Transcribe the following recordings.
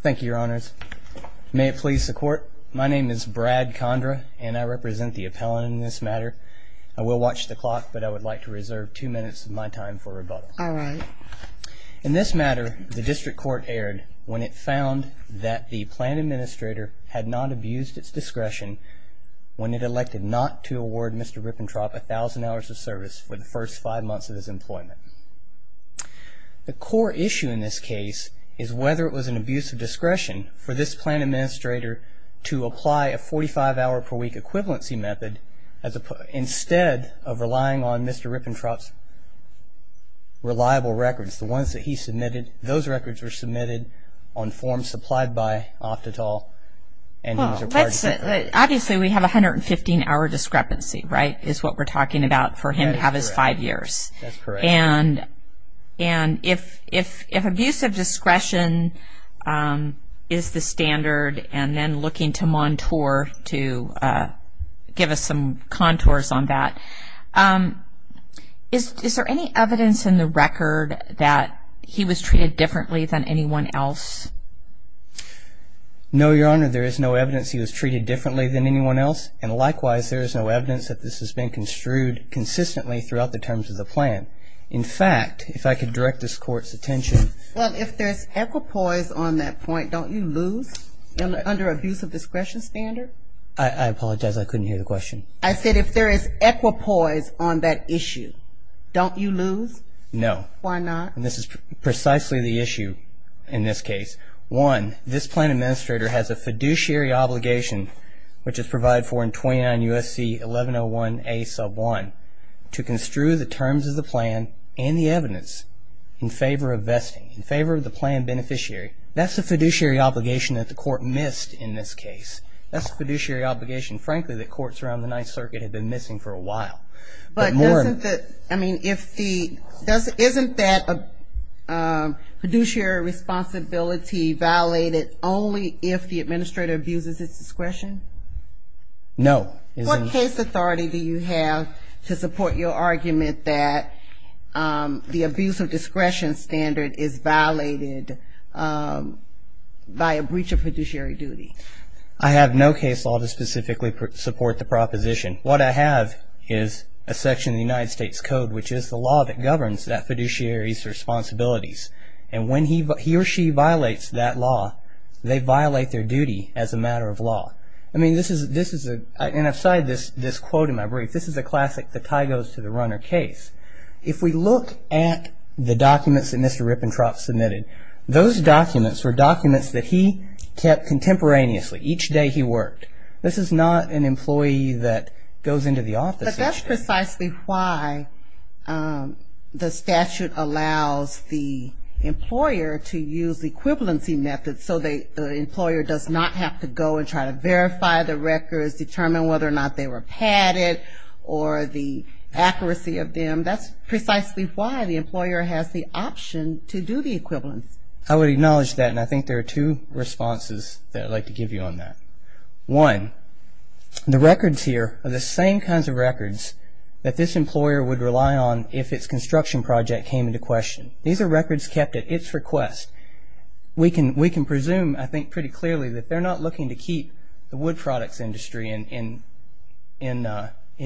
Thank you, Your Honors. May it please the Court, my name is Brad Condra, and I represent the appellant in this matter. I will watch the clock, but I would like to reserve two minutes of my time for rebuttal. All right. In this matter, the District Court erred when it found that the Planned Administrator had not abused its discretion when it elected not to award Mr. Rippentrop a thousand hours of service for the first five months of his employment. The core issue in this case is whether it was an abuse of discretion for this Planned Administrator to apply a 45-hour-per-week equivalency method instead of relying on Mr. Rippentrop's reliable records, the ones that he submitted. Those records were submitted on forms supplied by Oftedal. Obviously, we have a 115-hour discrepancy, right, is what we're talking about for him to have his five years. That's correct. And if abuse of discretion is the standard, and then looking to Montour to give us some contours on that, is there any evidence in the record that he was treated differently than anyone else? No, Your Honor, there is no evidence he was treated differently than anyone else, and likewise, there is no evidence that this has been construed consistently throughout the terms of the plan. In fact, if I could direct this Court's attention. Well, if there's equipoise on that point, don't you lose under abuse of discretion standard? I apologize. I couldn't hear the question. I said if there is equipoise on that issue, don't you lose? No. Why not? And this is precisely the issue in this case. One, this plan administrator has a fiduciary obligation, which is provided for in 29 U.S.C. 1101A sub 1, to construe the terms of the plan and the evidence in favor of vesting, in favor of the plan beneficiary. That's a fiduciary obligation that the Court missed in this case. That's a fiduciary obligation, frankly, that courts around the Ninth Circuit have been missing for a while. But isn't that fiduciary responsibility violated only if the administrator abuses its discretion? No. What case authority do you have to support your argument that the abuse of discretion standard is violated by a breach of fiduciary duty? I have no case law to specifically support the proposition. What I have is a section of the United States Code, which is the law that governs that fiduciary's responsibilities. And when he or she violates that law, they violate their duty as a matter of law. I mean, this is a, and I've cited this quote in my brief. This is a classic the tie goes to the runner case. If we look at the documents that Mr. Rippentrop submitted, those documents were documents that he kept contemporaneously. Each day he worked. This is not an employee that goes into the office each day. But that's precisely why the statute allows the employer to use equivalency methods, so the employer does not have to go and try to verify the records, determine whether or not they were padded, or the accuracy of them. That's precisely why the employer has the option to do the equivalence. I would acknowledge that, and I think there are two responses that I'd like to give you on that. One, the records here are the same kinds of records that this employer would rely on if its construction project came into question. These are records kept at its request. We can presume, I think pretty clearly, that they're not looking to keep the wood products industry in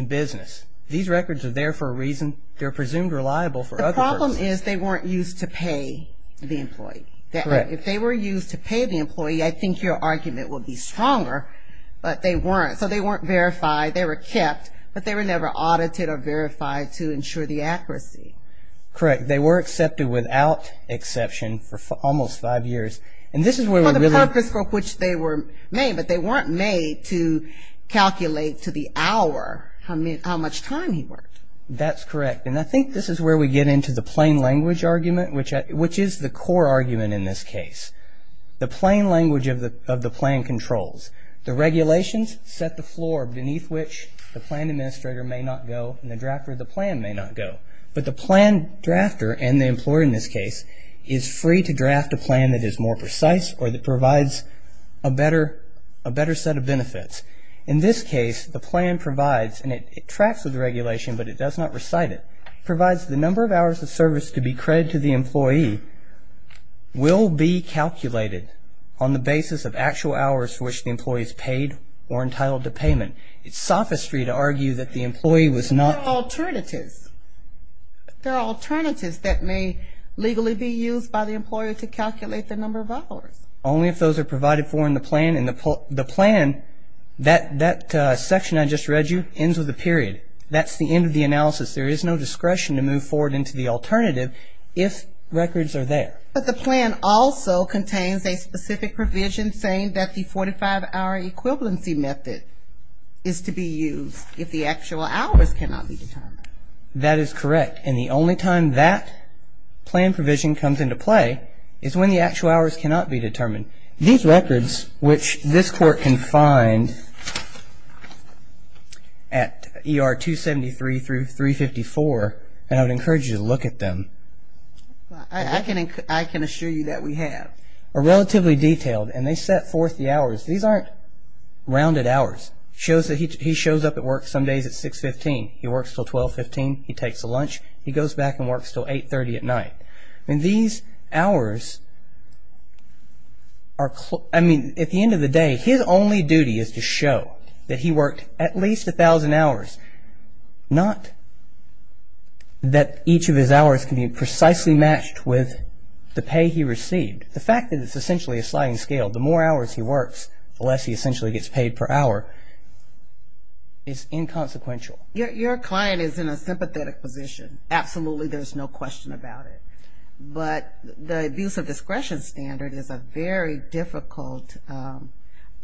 business. These records are there for a reason. They're presumed reliable for other purposes. The problem is they weren't used to pay the employee. Correct. If they were used to pay the employee, I think your argument would be stronger, but they weren't. So they weren't verified. They were kept, but they were never audited or verified to ensure the accuracy. Correct. They were accepted without exception for almost five years. For the purpose for which they were made, but they weren't made to calculate to the hour how much time he worked. That's correct. And I think this is where we get into the plain language argument, which is the core argument in this case. The plain language of the plan controls. The regulations set the floor beneath which the plan administrator may not go and the drafter of the plan may not go. But the plan drafter, and the employer in this case, is free to draft a plan that is more precise or that provides a better set of benefits. In this case, the plan provides, and it tracks with regulation, but it does not recite it. It provides the number of hours of service to be credited to the employee will be calculated on the basis of actual hours for which the employee is paid or entitled to payment. It's sophistry to argue that the employee was not. There are alternatives. There are alternatives that may legally be used by the employer to calculate the number of hours. Only if those are provided for in the plan. And the plan, that section I just read you, ends with a period. That's the end of the analysis. There is no discretion to move forward into the alternative if records are there. But the plan also contains a specific provision saying that the 45-hour equivalency method is to be used if the actual hours cannot be determined. That is correct. And the only time that plan provision comes into play is when the actual hours cannot be determined. These records, which this Court can find at ER 273 through 354, and I would encourage you to look at them, I can assure you that we have, are relatively detailed, and they set forth the hours. These aren't rounded hours. He shows up at work some days at 6.15. He works until 12.15. He takes a lunch. He goes back and works until 8.30 at night. And these hours are, I mean, at the end of the day, his only duty is to show that he worked at least 1,000 hours. Not that each of his hours can be precisely matched with the pay he received. The fact that it's essentially a sliding scale, the more hours he works, the less he essentially gets paid per hour, is inconsequential. Your client is in a sympathetic position. Absolutely, there's no question about it. But the abuse of discretion standard is a very difficult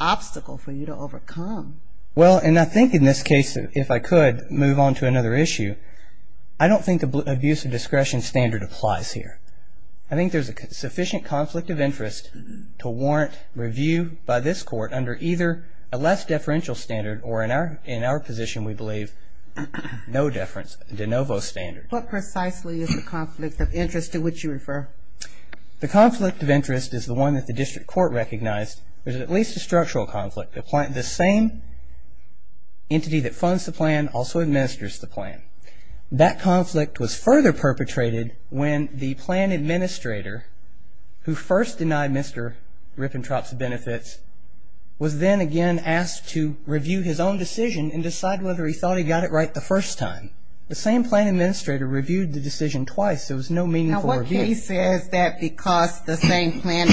obstacle for you to overcome. Well, and I think in this case, if I could move on to another issue, I don't think the abuse of discretion standard applies here. I think there's a sufficient conflict of interest to warrant review by this Court under either a less deferential standard or in our position, we believe, no deference, de novo standard. What precisely is the conflict of interest to which you refer? The conflict of interest is the one that the district court recognized. There's at least a structural conflict. The same entity that funds the plan also administers the plan. That conflict was further perpetrated when the plan administrator who first denied Mr. Rippentrop's benefits was then again asked to review his own decision and decide whether he thought he got it right the first time. The same plan administrator reviewed the decision twice. There was no meaningful review. Now, what case says that because the same plan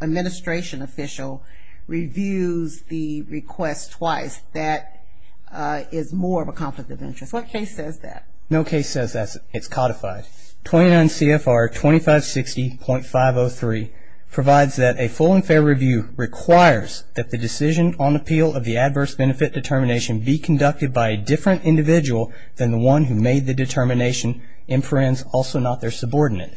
administration official reviews the request twice, that is more of a conflict of interest? What case says that? No case says that. It's codified. 29 CFR 2560.503 provides that a full and fair review requires that the decision on appeal of the adverse benefit determination be conducted by a different individual than the one who made the determination, inference also not their subordinate.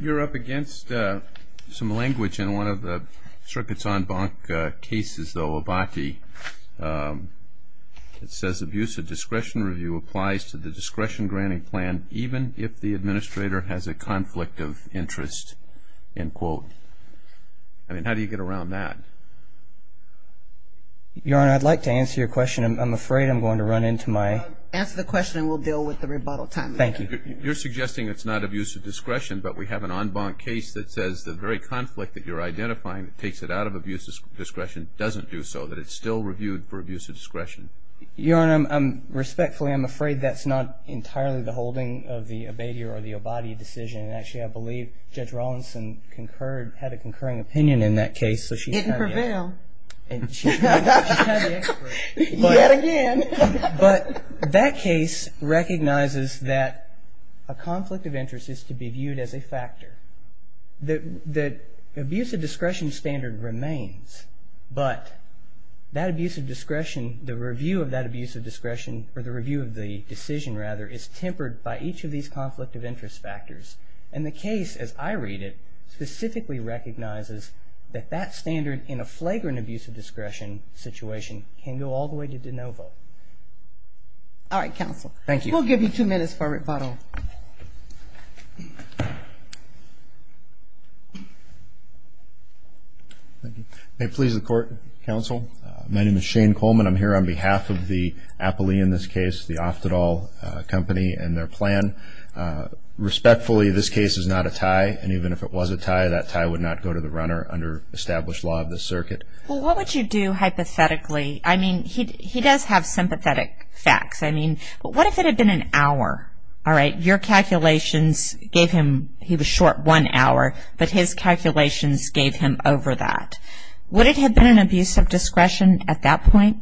You're up against some language in one of the circuits en banc cases, though, Abati. It says abuse of discretion review applies to the discretion granting plan even if the administrator has a conflict of interest. I mean, how do you get around that? Your Honor, I'd like to answer your question. I'm afraid I'm going to run into my. Answer the question and we'll deal with the rebuttal time. Thank you. You're suggesting it's not abuse of discretion, but we have an en banc case that says the very conflict that you're identifying that takes it out of abuse of discretion doesn't do so, that it's still reviewed for abuse of discretion. Your Honor, respectfully, I'm afraid that's not entirely the holding of the Abati or the Abati decision. Actually, I believe Judge Rawlinson concurred, had a concurring opinion in that case. It didn't prevail. Yet again. But that case recognizes that a conflict of interest is to be viewed as a factor. The abuse of discretion standard remains, but that abuse of discretion, the review of that abuse of discretion, or the review of the decision, rather, is tempered by each of these conflict of interest factors. And the case, as I read it, specifically recognizes that that standard in a flagrant abuse of discretion situation can go all the way to de novo. All right, counsel. Thank you. We'll give you two minutes for rebuttal. Thank you. May it please the court, counsel. My name is Shane Coleman. I'm here on behalf of the appellee in this case, the Aftadol company and their plan. Respectfully, this case is not a tie, and even if it was a tie, that tie would not go to the runner under established law of the circuit. Well, what would you do hypothetically? I mean, he does have sympathetic facts. I mean, what if it had been an hour? All right, your calculations gave him, he was short one hour, but his calculations gave him over that. Would it have been an abuse of discretion at that point?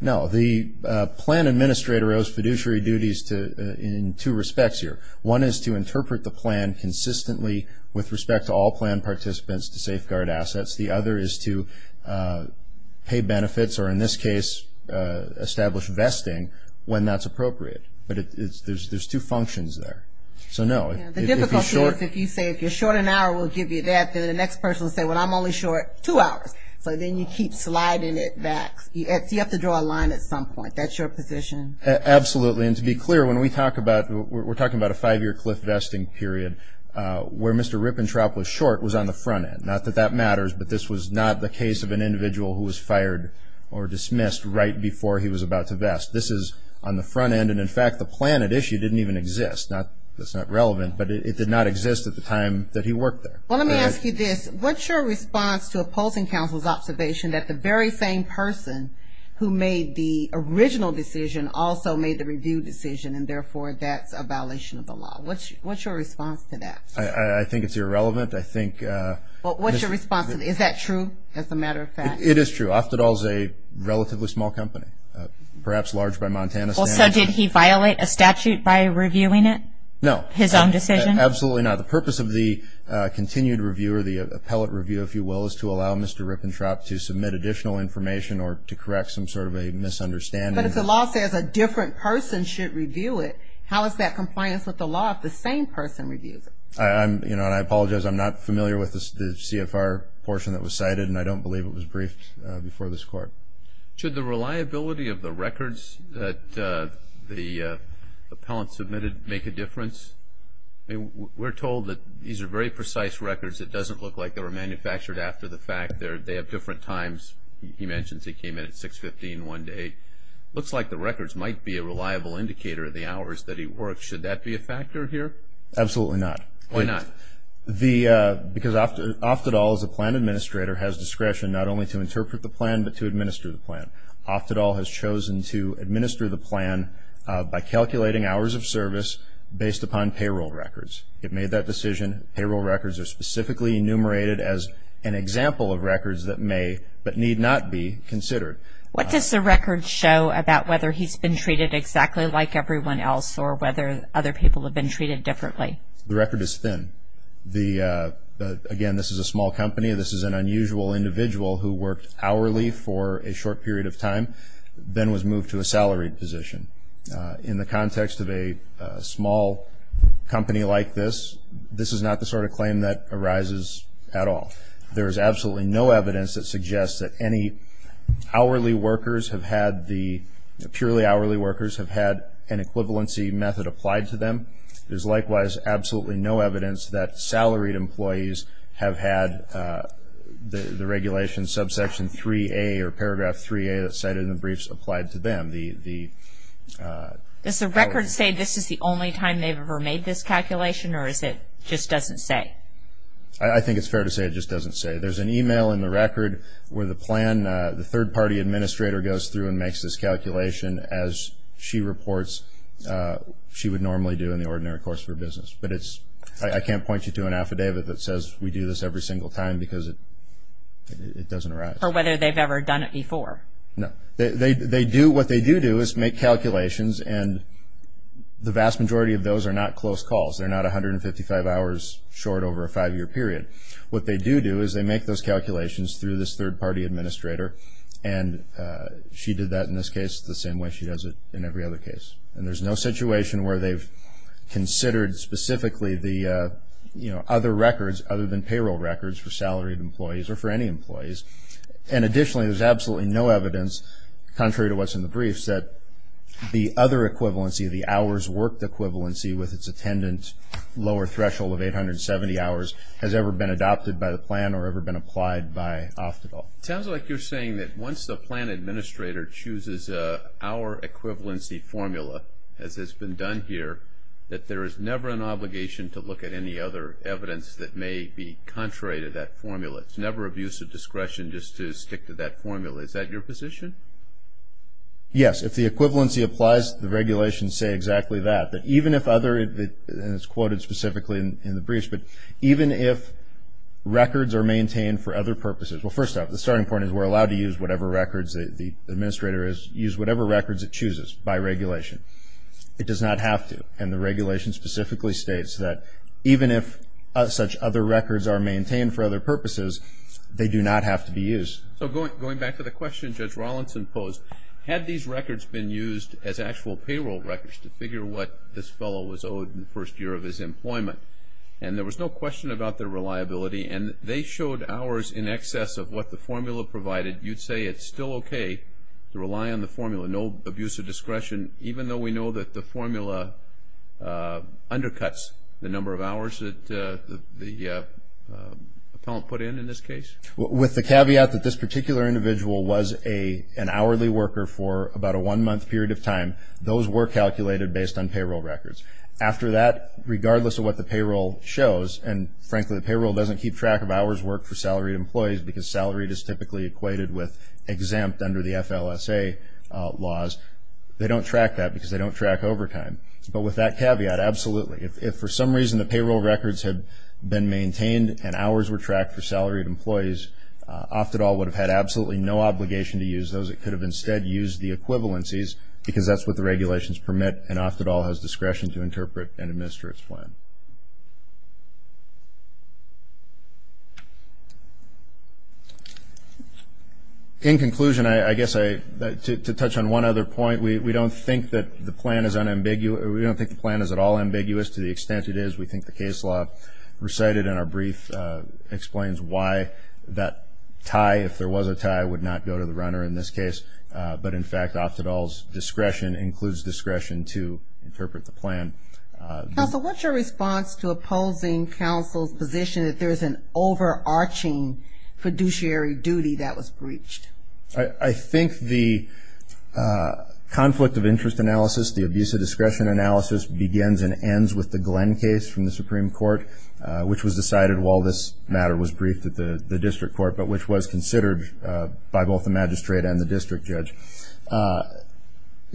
No. The plan administrator owes fiduciary duties in two respects here. One is to interpret the plan consistently with respect to all plan participants to safeguard assets. The other is to pay benefits or, in this case, establish vesting when that's appropriate. But there's two functions there. So, no. The difficulty is if you say if you're short an hour, we'll give you that. Then the next person will say, well, I'm only short two hours. So then you keep sliding it back. You have to draw a line at some point. That's your position? Absolutely. And to be clear, when we talk about, we're talking about a five-year cliff vesting period, where Mr. Rippentrop was short was on the front end. Not that that matters, but this was not the case of an individual who was fired or dismissed right before he was about to vest. This is on the front end. And, in fact, the plan at issue didn't even exist. That's not relevant, but it did not exist at the time that he worked there. Well, let me ask you this. What's your response to opposing counsel's observation that the very same person who made the original decision also made the review decision and, therefore, that's a violation of the law? What's your response to that? I think it's irrelevant. What's your response? Is that true, as a matter of fact? It is true. Oftedal is a relatively small company, perhaps large by Montana standards. So did he violate a statute by reviewing it? No. His own decision? Absolutely not. The purpose of the continued review or the appellate review, if you will, is to allow Mr. Rippentrop to submit additional information or to correct some sort of a misunderstanding. But if the law says a different person should review it, how is that compliance with the law if the same person reviews it? I apologize. I'm not familiar with the CFR portion that was cited, and I don't believe it was briefed before this Court. Should the reliability of the records that the appellant submitted make a difference? We're told that these are very precise records. It doesn't look like they were manufactured after the fact. They have different times. He mentions he came in at 6.15, 1.00 to 8.00. It looks like the records might be a reliable indicator of the hours that he worked. Should that be a factor here? Absolutely not. Why not? Because Oftedal, as a plan administrator, has discretion not only to interpret the plan but to administer the plan. Oftedal has chosen to administer the plan by calculating hours of service based upon payroll records. It made that decision. Payroll records are specifically enumerated as an example of records that may but need not be considered. What does the record show about whether he's been treated exactly like everyone else or whether other people have been treated differently? The record is thin. Again, this is a small company. This is an unusual individual who worked hourly for a short period of time then was moved to a salaried position. In the context of a small company like this, this is not the sort of claim that arises at all. There is absolutely no evidence that suggests that any hourly workers have had the purely hourly workers have had an equivalency method applied to them. There's likewise absolutely no evidence that salaried employees have had the regulation subsection 3A or paragraph 3A cited in the briefs applied to them. Does the record say this is the only time they've ever made this calculation or is it just doesn't say? I think it's fair to say it just doesn't say. There's an email in the record where the plan, the third-party administrator goes through and makes this calculation, as she reports she would normally do in the ordinary course of her business. But I can't point you to an affidavit that says we do this every single time because it doesn't arise. Or whether they've ever done it before. No. What they do do is make calculations, and the vast majority of those are not close calls. They're not 155 hours short over a five-year period. What they do do is they make those calculations through this third-party administrator, and she did that in this case the same way she does it in every other case. And there's no situation where they've considered specifically the, you know, other records other than payroll records for salaried employees or for any employees. And additionally, there's absolutely no evidence, contrary to what's in the briefs, that the other equivalency, the hours worked equivalency, with its attendant lower threshold of 870 hours, has ever been adopted by the plan or ever been applied by OFDAL. It sounds like you're saying that once the plan administrator chooses our equivalency formula, as has been done here, that there is never an obligation to look at any other evidence that may be contrary to that formula. It's never abuse of discretion just to stick to that formula. Is that your position? Yes. If the equivalency applies, the regulations say exactly that. That even if other, and it's quoted specifically in the briefs, but even if records are maintained for other purposes. Well, first off, the starting point is we're allowed to use whatever records the administrator is, use whatever records it chooses by regulation. It does not have to. And the regulation specifically states that even if such other records are maintained for other purposes, they do not have to be used. So going back to the question Judge Rawlinson posed, had these records been used as actual payroll records to figure what this fellow was owed in the first year of his employment, and there was no question about their reliability, and they showed hours in excess of what the formula provided, you'd say it's still okay to rely on the formula, no abuse of discretion, even though we know that the formula undercuts the number of hours that the appellant put in, in this case? With the caveat that this particular individual was an hourly worker for about a one-month period of time, those were calculated based on payroll records. After that, regardless of what the payroll shows, and frankly the payroll doesn't keep track of hours worked for salaried employees because salaried is typically equated with exempt under the FLSA laws, they don't track that because they don't track overtime. But with that caveat, absolutely. If for some reason the payroll records had been maintained and hours were tracked for salaried employees, Oftedal would have had absolutely no obligation to use those. It could have instead used the equivalencies because that's what the regulations permit, and Oftedal has discretion to interpret and administer its plan. In conclusion, I guess to touch on one other point, we don't think that the plan is at all ambiguous to the extent it is. We think the case law recited in our brief explains why that tie, if there was a tie, would not go to the runner in this case. But in fact, Oftedal's discretion includes discretion to interpret the plan. Counsel, what's your response to opposing counsel's position that there is an overarching fiduciary duty that was breached? I think the conflict of interest analysis, the abuse of discretion analysis, begins and ends with the Glenn case from the Supreme Court, which was decided while this matter was briefed at the district court, but which was considered by both the magistrate and the district judge.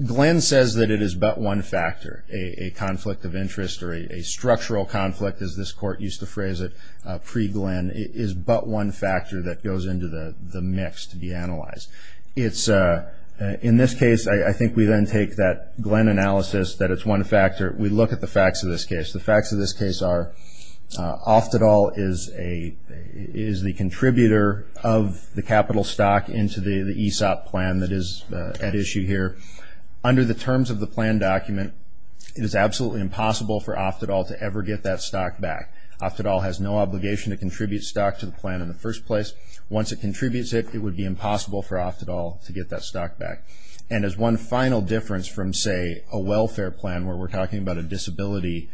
Glenn says that it is but one factor. A conflict of interest or a structural conflict, as this court used to phrase it pre-Glenn, is but one factor that goes into the mix to be analyzed. In this case, I think we then take that Glenn analysis that it's one factor. We look at the facts of this case. The facts of this case are Oftedal is the contributor of the capital stock into the ESOP plan that is at issue here. Under the terms of the plan document, it is absolutely impossible for Oftedal to ever get that stock back. Oftedal has no obligation to contribute stock to the plan in the first place. Once it contributes it, it would be impossible for Oftedal to get that stock back. And as one final difference from, say, a welfare plan where we're talking about a disability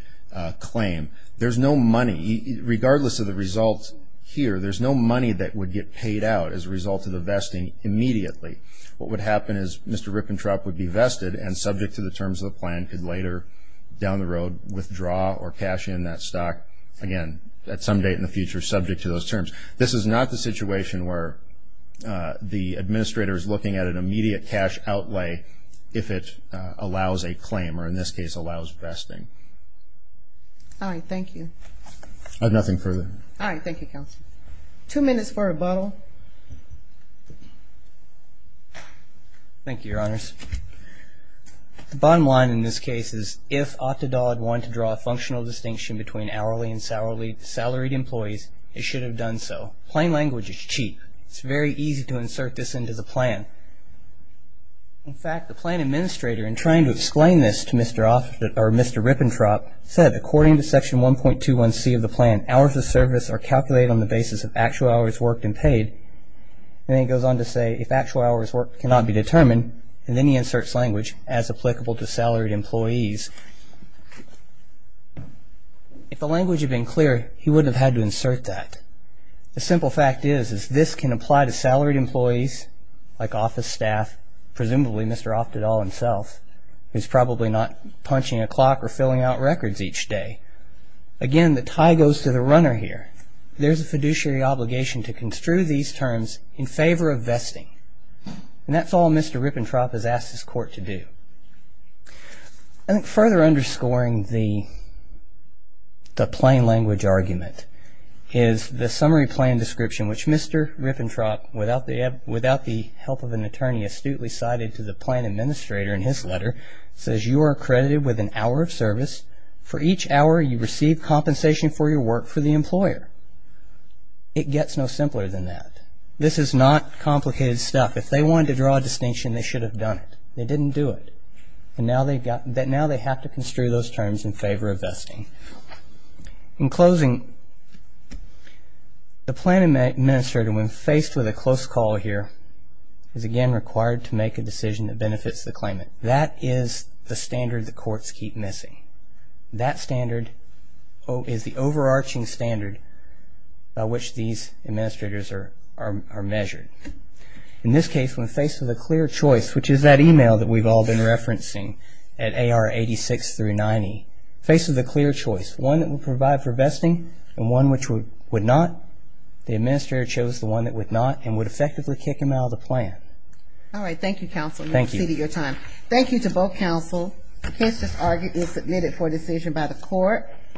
claim, there's no money. Regardless of the results here, there's no money that would get paid out as a result of the vesting immediately. What would happen is Mr. Rippentrop would be vested and subject to the terms of the plan, and could later down the road withdraw or cash in that stock. Again, at some date in the future, subject to those terms. This is not the situation where the administrator is looking at an immediate cash outlay if it allows a claim or, in this case, allows vesting. All right, thank you. I have nothing further. All right, thank you, counsel. Two minutes for rebuttal. Thank you, Your Honors. The bottom line in this case is, if Oftedal had wanted to draw a functional distinction between hourly and salaried employees, it should have done so. Plain language is cheap. It's very easy to insert this into the plan. In fact, the plan administrator, in trying to explain this to Mr. Rippentrop, said, according to Section 1.21c of the plan, hours of service are calculated on the basis of actual hours worked and paid. Then he goes on to say, if actual hours worked cannot be determined, and then he inserts language, as applicable to salaried employees. If the language had been clearer, he wouldn't have had to insert that. The simple fact is, is this can apply to salaried employees, like office staff, presumably Mr. Oftedal himself, who's probably not punching a clock or filling out records each day. Again, the tie goes to the runner here. There's a fiduciary obligation to construe these terms in favor of vesting. And that's all Mr. Rippentrop has asked his court to do. I think further underscoring the plain language argument is the summary plan description, which Mr. Rippentrop, without the help of an attorney, astutely cited to the plan administrator in his letter, says, you are accredited with an hour of service. For each hour, you receive compensation for your work for the employer. It gets no simpler than that. This is not complicated stuff. If they wanted to draw a distinction, they should have done it. They didn't do it. Now they have to construe those terms in favor of vesting. In closing, the plan administrator, when faced with a close call here, is again required to make a decision that benefits the claimant. That is the standard the courts keep missing. That standard is the overarching standard by which these administrators are measured. In this case, when faced with a clear choice, which is that email that we've all been referencing at AR 86 through 90, faced with a clear choice, one that would provide for vesting and one which would not, the administrator chose the one that would not and would effectively kick him out of the plan. All right, thank you, counsel. Thank you. I'm going to cede your time. Thank you to both counsel. The case is argued and submitted for decision by the court.